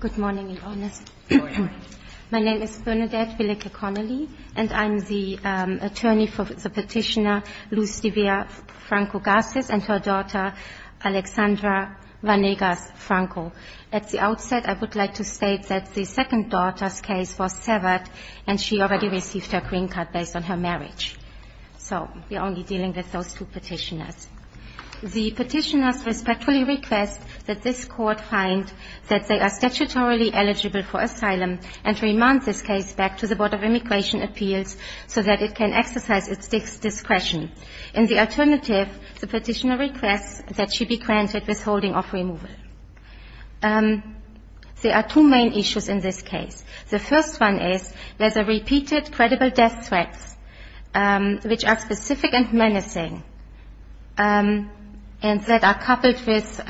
Good morning, Your Honor. Good morning. My name is Bernadette Willeke Connelly, and I'm the attorney for the petitioner Luz D'Avia Franco-Garces and her daughter Alexandra Vanegas-Franco. At the outset, I would like to state that the second daughter's case was severed, and she already received her green card based on her marriage. So we're only dealing with those two petitioners. The petitioners respectfully request that this Court find that they are statutorily eligible for asylum and to remand this case back to the Board of Immigration Appeals so that it can exercise its discretion. In the alternative, the petitioner requests that she be granted withholding of removal. There are two main issues in this case. The first one is there's a repeated credible death threat, which are specific and menacing, and that are coupled with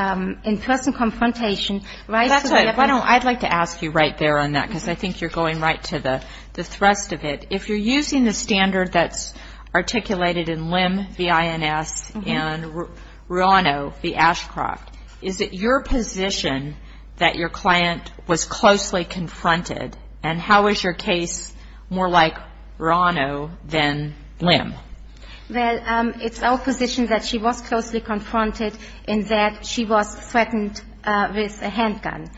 in-person confrontation. That's right. Why don't I like to ask you right there on that, because I think you're going right to the thrust of it. If you're using the standard that's articulated in LIM, the INS, and RUANO, the Ashcroft, is it your position that your client was closely confronted? And how is your case more like RUANO than LIM? Well, it's our position that she was closely confronted in that she was threatened with a handgun.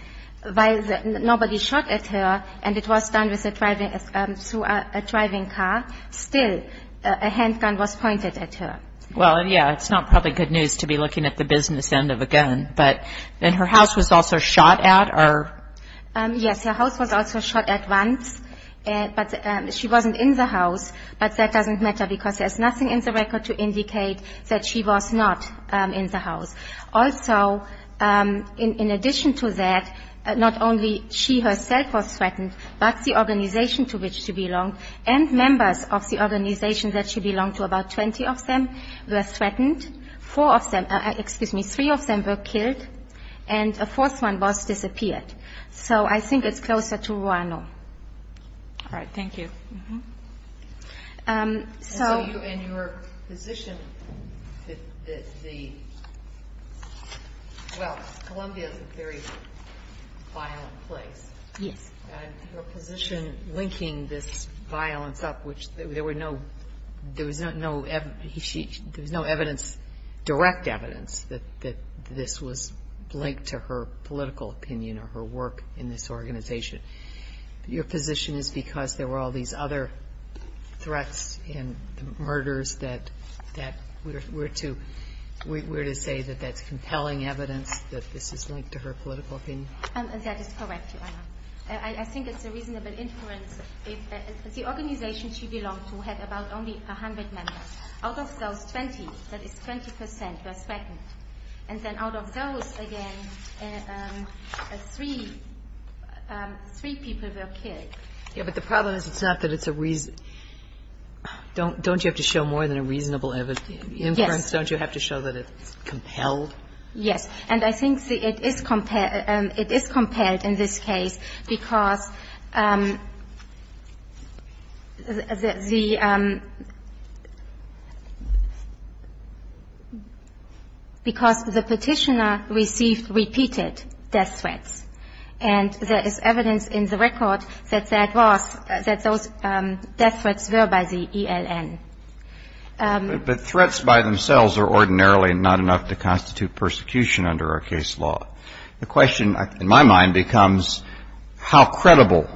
While nobody shot at her and it was done through a driving car, still a handgun was pointed at her. Well, yeah, it's not probably good news to be looking at the business end of a gun. But then her house was also shot at or? Yes, her house was also shot at once, but she wasn't in the house. But that doesn't matter because there's nothing in the record to indicate that she was not in the house. Also, in addition to that, not only she herself was threatened, but the organization to which she belonged and members of the organization that she belonged to, about 20 of them, were threatened. Four of them, excuse me, three of them were killed, and a fourth one was disappeared. So I think it's closer to RUANO. All right, thank you. And your position that the, well, Columbia is a very violent place. Yes. Your position linking this violence up, which there was no direct evidence that this was linked to her political opinion or her work in this organization. Your position is because there were all these other threats and murders that we're to say that that's compelling evidence that this is linked to her political opinion? That is correct, Your Honor. I think it's a reasonable inference. The organization she belonged to had about only 100 members. Out of those 20, that is 20 percent, were threatened. And then out of those, again, three people were killed. Yes, but the problem is it's not that it's a reason. Don't you have to show more than a reasonable inference? Yes. Don't you have to show that it's compelled? Yes. And I think it is compelled in this case because the petitioner received repeated death threats. And there is evidence in the record that that was, that those death threats were by the ELN. But threats by themselves are ordinarily not enough to constitute persecution under our case law. The question in my mind becomes how credible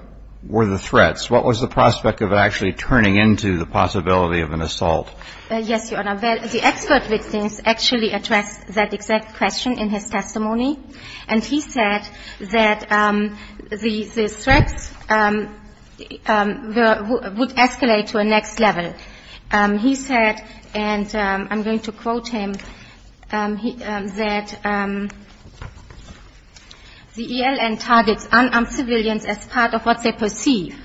were the threats? What was the prospect of it actually turning into the possibility of an assault? Yes, Your Honor. The expert witness actually addressed that exact question in his testimony. And he said that the threats would escalate to a next level. He said, and I'm going to quote him, that the ELN targets unarmed civilians as part of what they perceive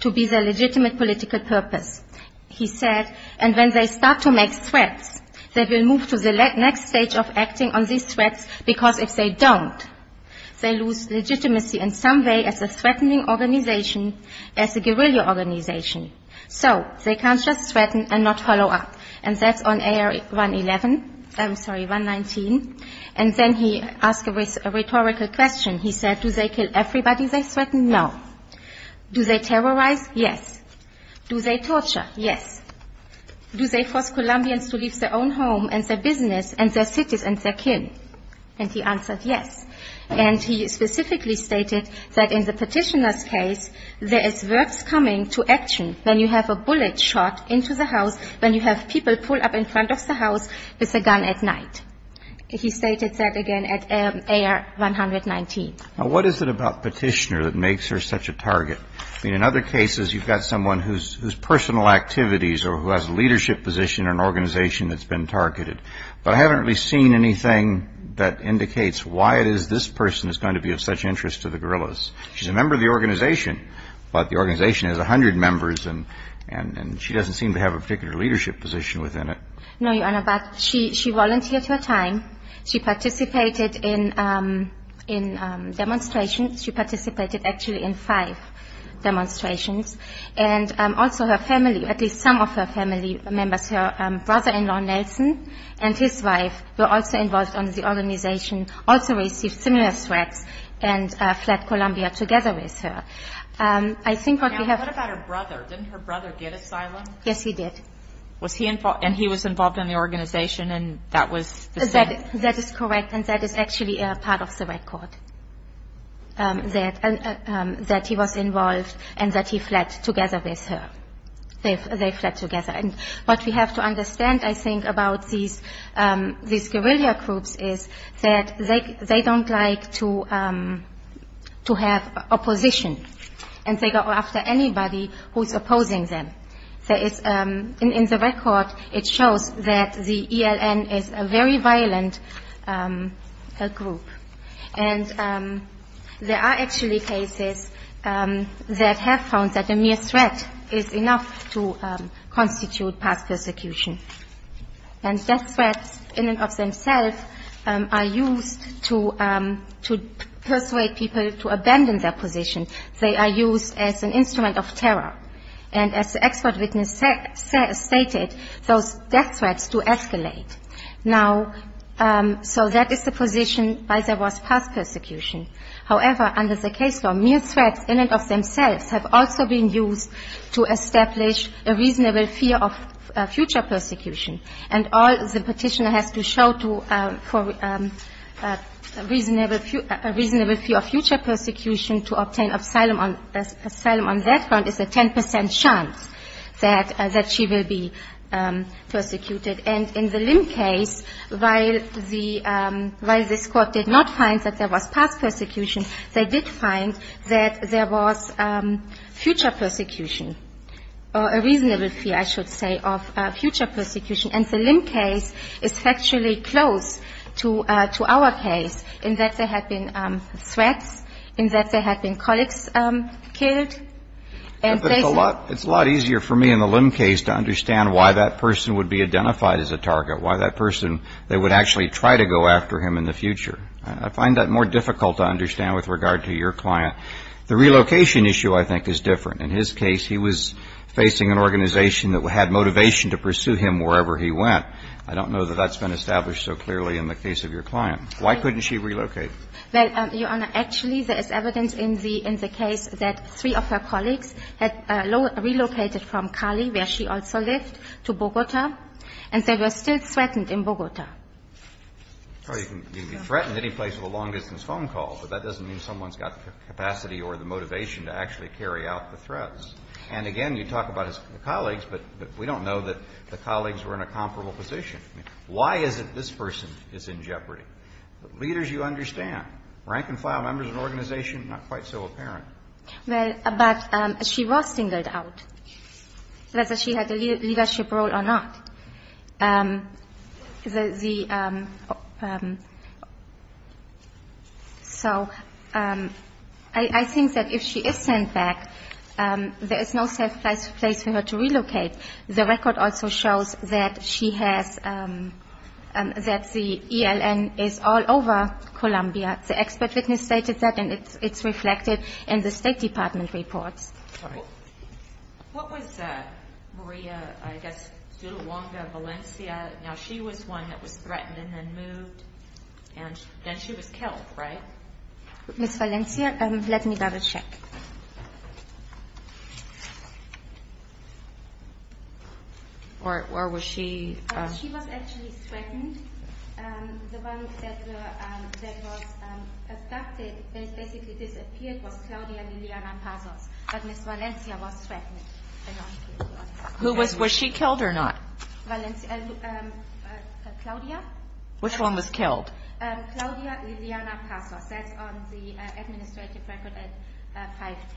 to be the legitimate political purpose. He said, and when they start to make threats, they will move to the next stage of acting on these threats because if they don't, they lose legitimacy in some way as a threatening organization, as a guerrilla organization. So they can't just threaten and not follow up. And that's on AR111. I'm sorry, 119. And then he asked a rhetorical question. He said, do they kill everybody they threaten? No. Do they terrorize? Yes. Do they torture? Yes. Do they force Colombians to leave their own home and their business and their cities and their kin? And he answered yes. And he specifically stated that in the Petitioner's case, there is works coming to action when you have a bullet shot into the house, when you have people pulled up in front of the house with a gun at night. He stated that again at AR119. In other cases, you've got someone whose personal activities or who has a leadership position in an organization that's been targeted. But I haven't really seen anything that indicates why it is this person is going to be of such interest to the guerrillas. She's a member of the organization, but the organization has 100 members, and she doesn't seem to have a particular leadership position within it. No, Your Honor, but she volunteered her time. She participated in demonstrations. She participated actually in five demonstrations. And also her family, at least some of her family members, her brother-in-law, Nelson, and his wife were also involved in the organization, also received similar threats, and fled Colombia together with her. Now, what about her brother? Didn't her brother get asylum? Yes, he did. And he was involved in the organization, and that was the same? That he was involved and that he fled together with her. They fled together. And what we have to understand, I think, about these guerrilla groups is that they don't like to have opposition, and they go after anybody who's opposing them. In the record, it shows that the ELN is a very violent group. And there are actually cases that have found that a mere threat is enough to constitute past persecution. And death threats in and of themselves are used to persuade people to abandon their position. They are used as an instrument of terror. And as the expert witness stated, those death threats do escalate. Now, so that is the position by the worst past persecution. However, under the case law, mere threats in and of themselves have also been used to establish a reasonable fear of future persecution. And all the Petitioner has to show for a reasonable fear of future persecution to obtain asylum on that front is a 10 percent chance that she will be persecuted. And in the Lim case, while the Court did not find that there was past persecution, they did find that there was future persecution, or a reasonable fear, I should say, of future persecution. And the Lim case is actually close to our case in that there had been threats, in that there had been colleagues killed. But it's a lot easier for me in the Lim case to understand why that person would be identified as a target, why that person, they would actually try to go after him in the future. I find that more difficult to understand with regard to your client. The relocation issue, I think, is different. In his case, he was facing an organization that had motivation to pursue him wherever he went. I don't know that that's been established so clearly in the case of your client. Why couldn't she relocate? Well, Your Honor, actually, there is evidence in the case that three of her colleagues had relocated from Cali, where she also lived, to Bogota, and they were still threatened in Bogota. Well, you can threaten any place with a long-distance phone call, but that doesn't mean someone's got the capacity or the motivation to actually carry out the threats. And again, you talk about his colleagues, but we don't know that the colleagues were in a comparable position. Why is it this person is in jeopardy? Leaders, you understand. Rank-and-file members of an organization, not quite so apparent. Well, but she was singled out, whether she had a leadership role or not. So I think that if she is sent back, there is no safe place for her to relocate. The record also shows that she has the ELN is all over Colombia. The expert witness stated that, and it's reflected in the State Department reports. What was Maria, I guess, Zuluanga Valencia? Now, she was one that was threatened and then moved, and then she was killed, right? Ms. Valencia, let me double-check. Where was she? She was actually threatened. The one that was abducted, that basically disappeared, was Claudia Liliana Pazos. But Ms. Valencia was threatened. Was she killed or not? Claudia. Which one was killed? Claudia Liliana Pazos. Ms. Valencia was the one that was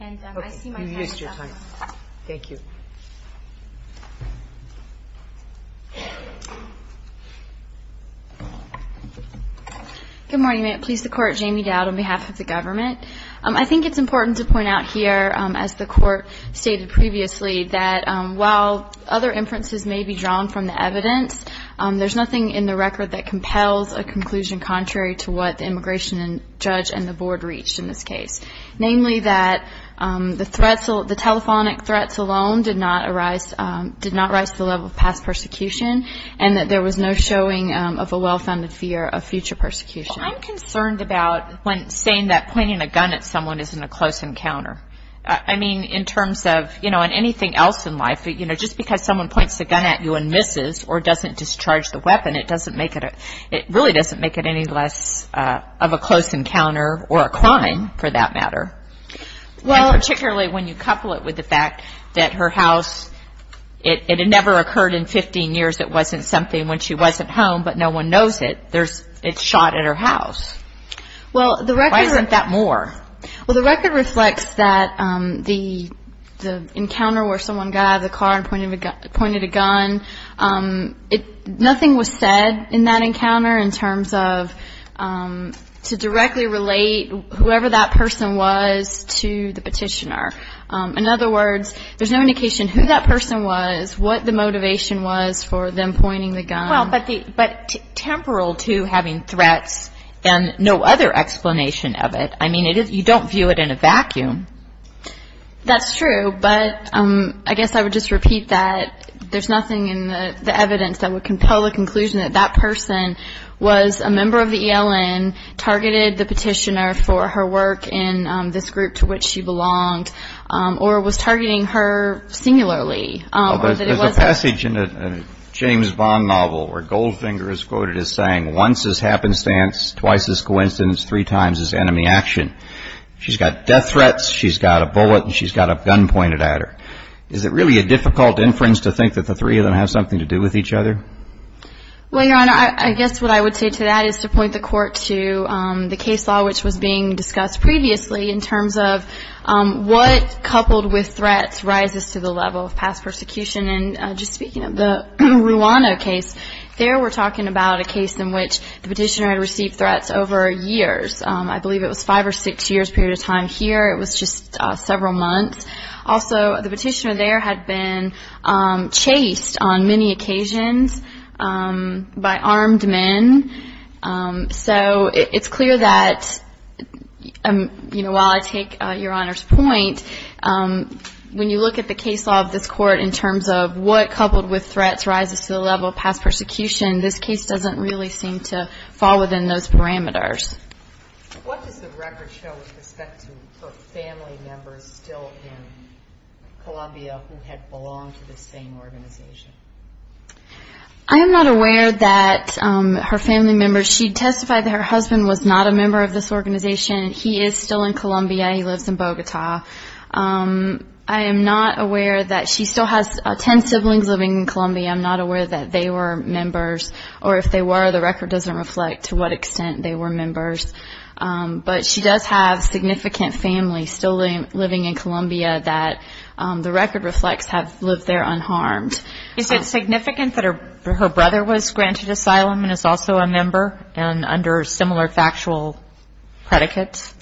in the home. So the one that was kidnapped was Claudia Liliana Pazos. That's on the administrative record at 510. And I see my time is up. Okay. You've used your time. Thank you. Good morning. Please support Jamie Dowd on behalf of the government. I think it's important to point out here, as the court stated previously, that while other inferences may be drawn from the evidence, there's nothing in the record that compels a conclusion contrary to what the immigration judge and the board reached in this case, namely that the telephonic threats alone did not rise to the level of past persecution and that there was no showing of a well-founded fear of future persecution. Well, I'm concerned about when saying that pointing a gun at someone isn't a close encounter. I mean, in terms of anything else in life, just because someone points a gun at you and misses or doesn't discharge the weapon, it really doesn't make it any less of a close encounter or a crime, for that matter. And particularly when you couple it with the fact that her house, it had never occurred in 15 years, it wasn't something when she wasn't home, but no one knows it, it's shot at her house. Why isn't that more? Well, the record reflects that the encounter where someone got out of the car and pointed a gun, nothing was said in that encounter in terms of to directly relate whoever that person was to the petitioner. In other words, there's no indication who that person was, what the motivation was for them pointing the gun. Well, but temporal to having threats and no other explanation of it. I mean, you don't view it in a vacuum. That's true, but I guess I would just repeat that there's nothing in the evidence that would compel the conclusion that that person was a member of the ELN, targeted the petitioner for her work in this group to which she belonged, or was targeting her singularly. There's a passage in a James Bond novel where Goldfinger is quoted as saying, once is happenstance, twice is coincidence, three times is enemy action. She's got death threats, she's got a bullet, and she's got a gun pointed at her. Is it really a difficult inference to think that the three of them have something to do with each other? Well, Your Honor, I guess what I would say to that is to point the court to the case law which was being discussed previously in terms of what, coupled with threats, rises to the level of past persecution. And just speaking of the Ruano case, there we're talking about a case in which the petitioner had received threats over years. I believe it was five or six years' period of time here. It was just several months. Also, the petitioner there had been chased on many occasions by armed men. So it's clear that, you know, while I take Your Honor's point, when you look at the case law of this court in terms of what, coupled with threats, rises to the level of past persecution, this case doesn't really seem to fall within those parameters. What does the record show with respect to her family members still in Colombia who had belonged to this same organization? I am not aware that her family members. She testified that her husband was not a member of this organization. He is still in Colombia. He lives in Bogota. I am not aware that she still has ten siblings living in Colombia. I'm not aware that they were members. Or if they were, the record doesn't reflect to what extent they were members. But she does have significant family still living in Colombia that the record reflects have lived there unharmed. Is it significant that her brother was granted asylum and is also a member and under similar factual predicates?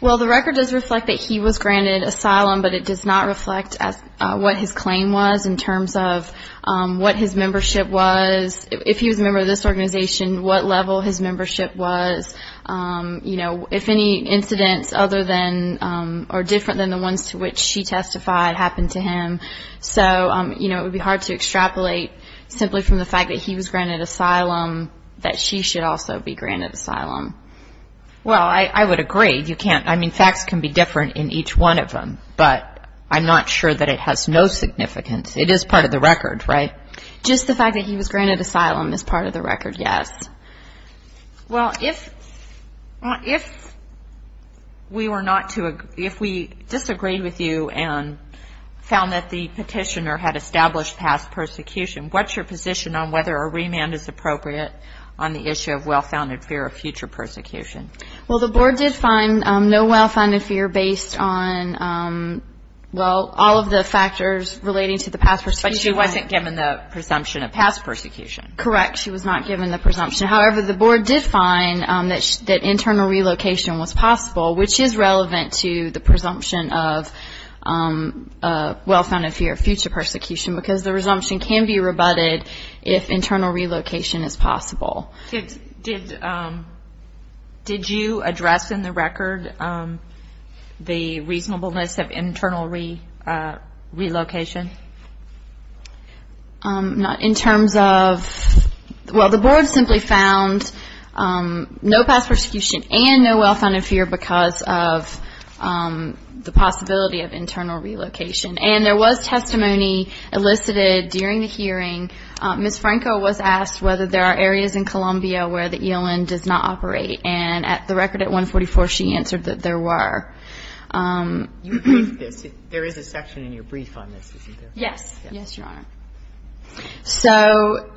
Well, the record does reflect that he was granted asylum, but it does not reflect what his claim was in terms of what his membership was, if he was a member of this organization, what level his membership was, if any incidents other than or different than the ones to which she testified happened to him. So it would be hard to extrapolate simply from the fact that he was granted asylum that she should also be granted asylum. Well, I would agree. I mean, facts can be different in each one of them, but I'm not sure that it has no significance. It is part of the record, right? Just the fact that he was granted asylum is part of the record, yes. Well, if we disagreed with you and found that the petitioner had established past persecution, what's your position on whether a remand is appropriate on the issue of well-founded fear of future persecution? Well, the board did find no well-founded fear based on, well, all of the factors relating to the past persecution. But she wasn't given the presumption of past persecution. Correct. She was not given the presumption. However, the board did find that internal relocation was possible, which is relevant to the presumption of well-founded fear of future persecution because the presumption can be rebutted if internal relocation is possible. Did you address in the record the reasonableness of internal relocation? Not in terms of, well, the board simply found no past persecution and no well-founded fear because of the possibility of internal relocation. And there was testimony elicited during the hearing. Ms. Franco was asked whether there are areas in Columbia where the ELN does not operate. And at the record at 144, she answered that there were. You agreed to this. There is a section in your brief on this, isn't there? Yes. Yes, Your Honor. So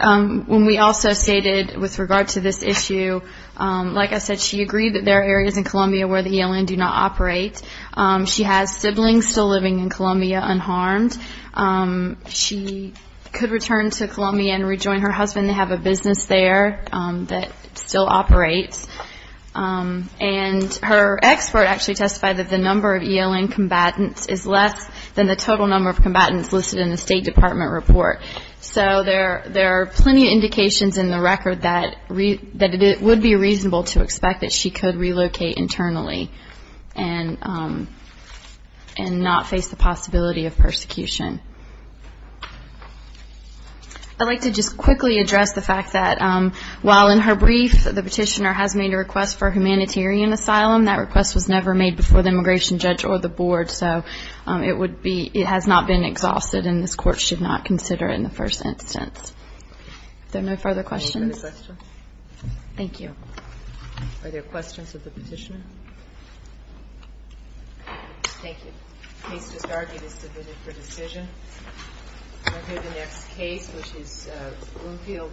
when we also stated with regard to this issue, like I said, she agreed that there are areas in Columbia where the ELN do not operate. She has siblings still living in Columbia unharmed. She could return to Columbia and rejoin her husband. They have a business there that still operates. And her expert actually testified that the number of ELN combatants is less than the total number of combatants listed in the State Department report. So there are plenty of indications in the record that it would be reasonable to expect that she could relocate internally and not face the possibility of persecution. I'd like to just quickly address the fact that while in her brief, the petitioner has made a request for humanitarian asylum, that request was never made before the immigration judge or the board. So it has not been exhausted, and this Court should not consider it in the first instance. Are there no further questions? Thank you. Are there questions of the petitioner? Thank you. The case discarded is submitted for decision. We'll hear the next case, which is Bloomfield v. Astrea.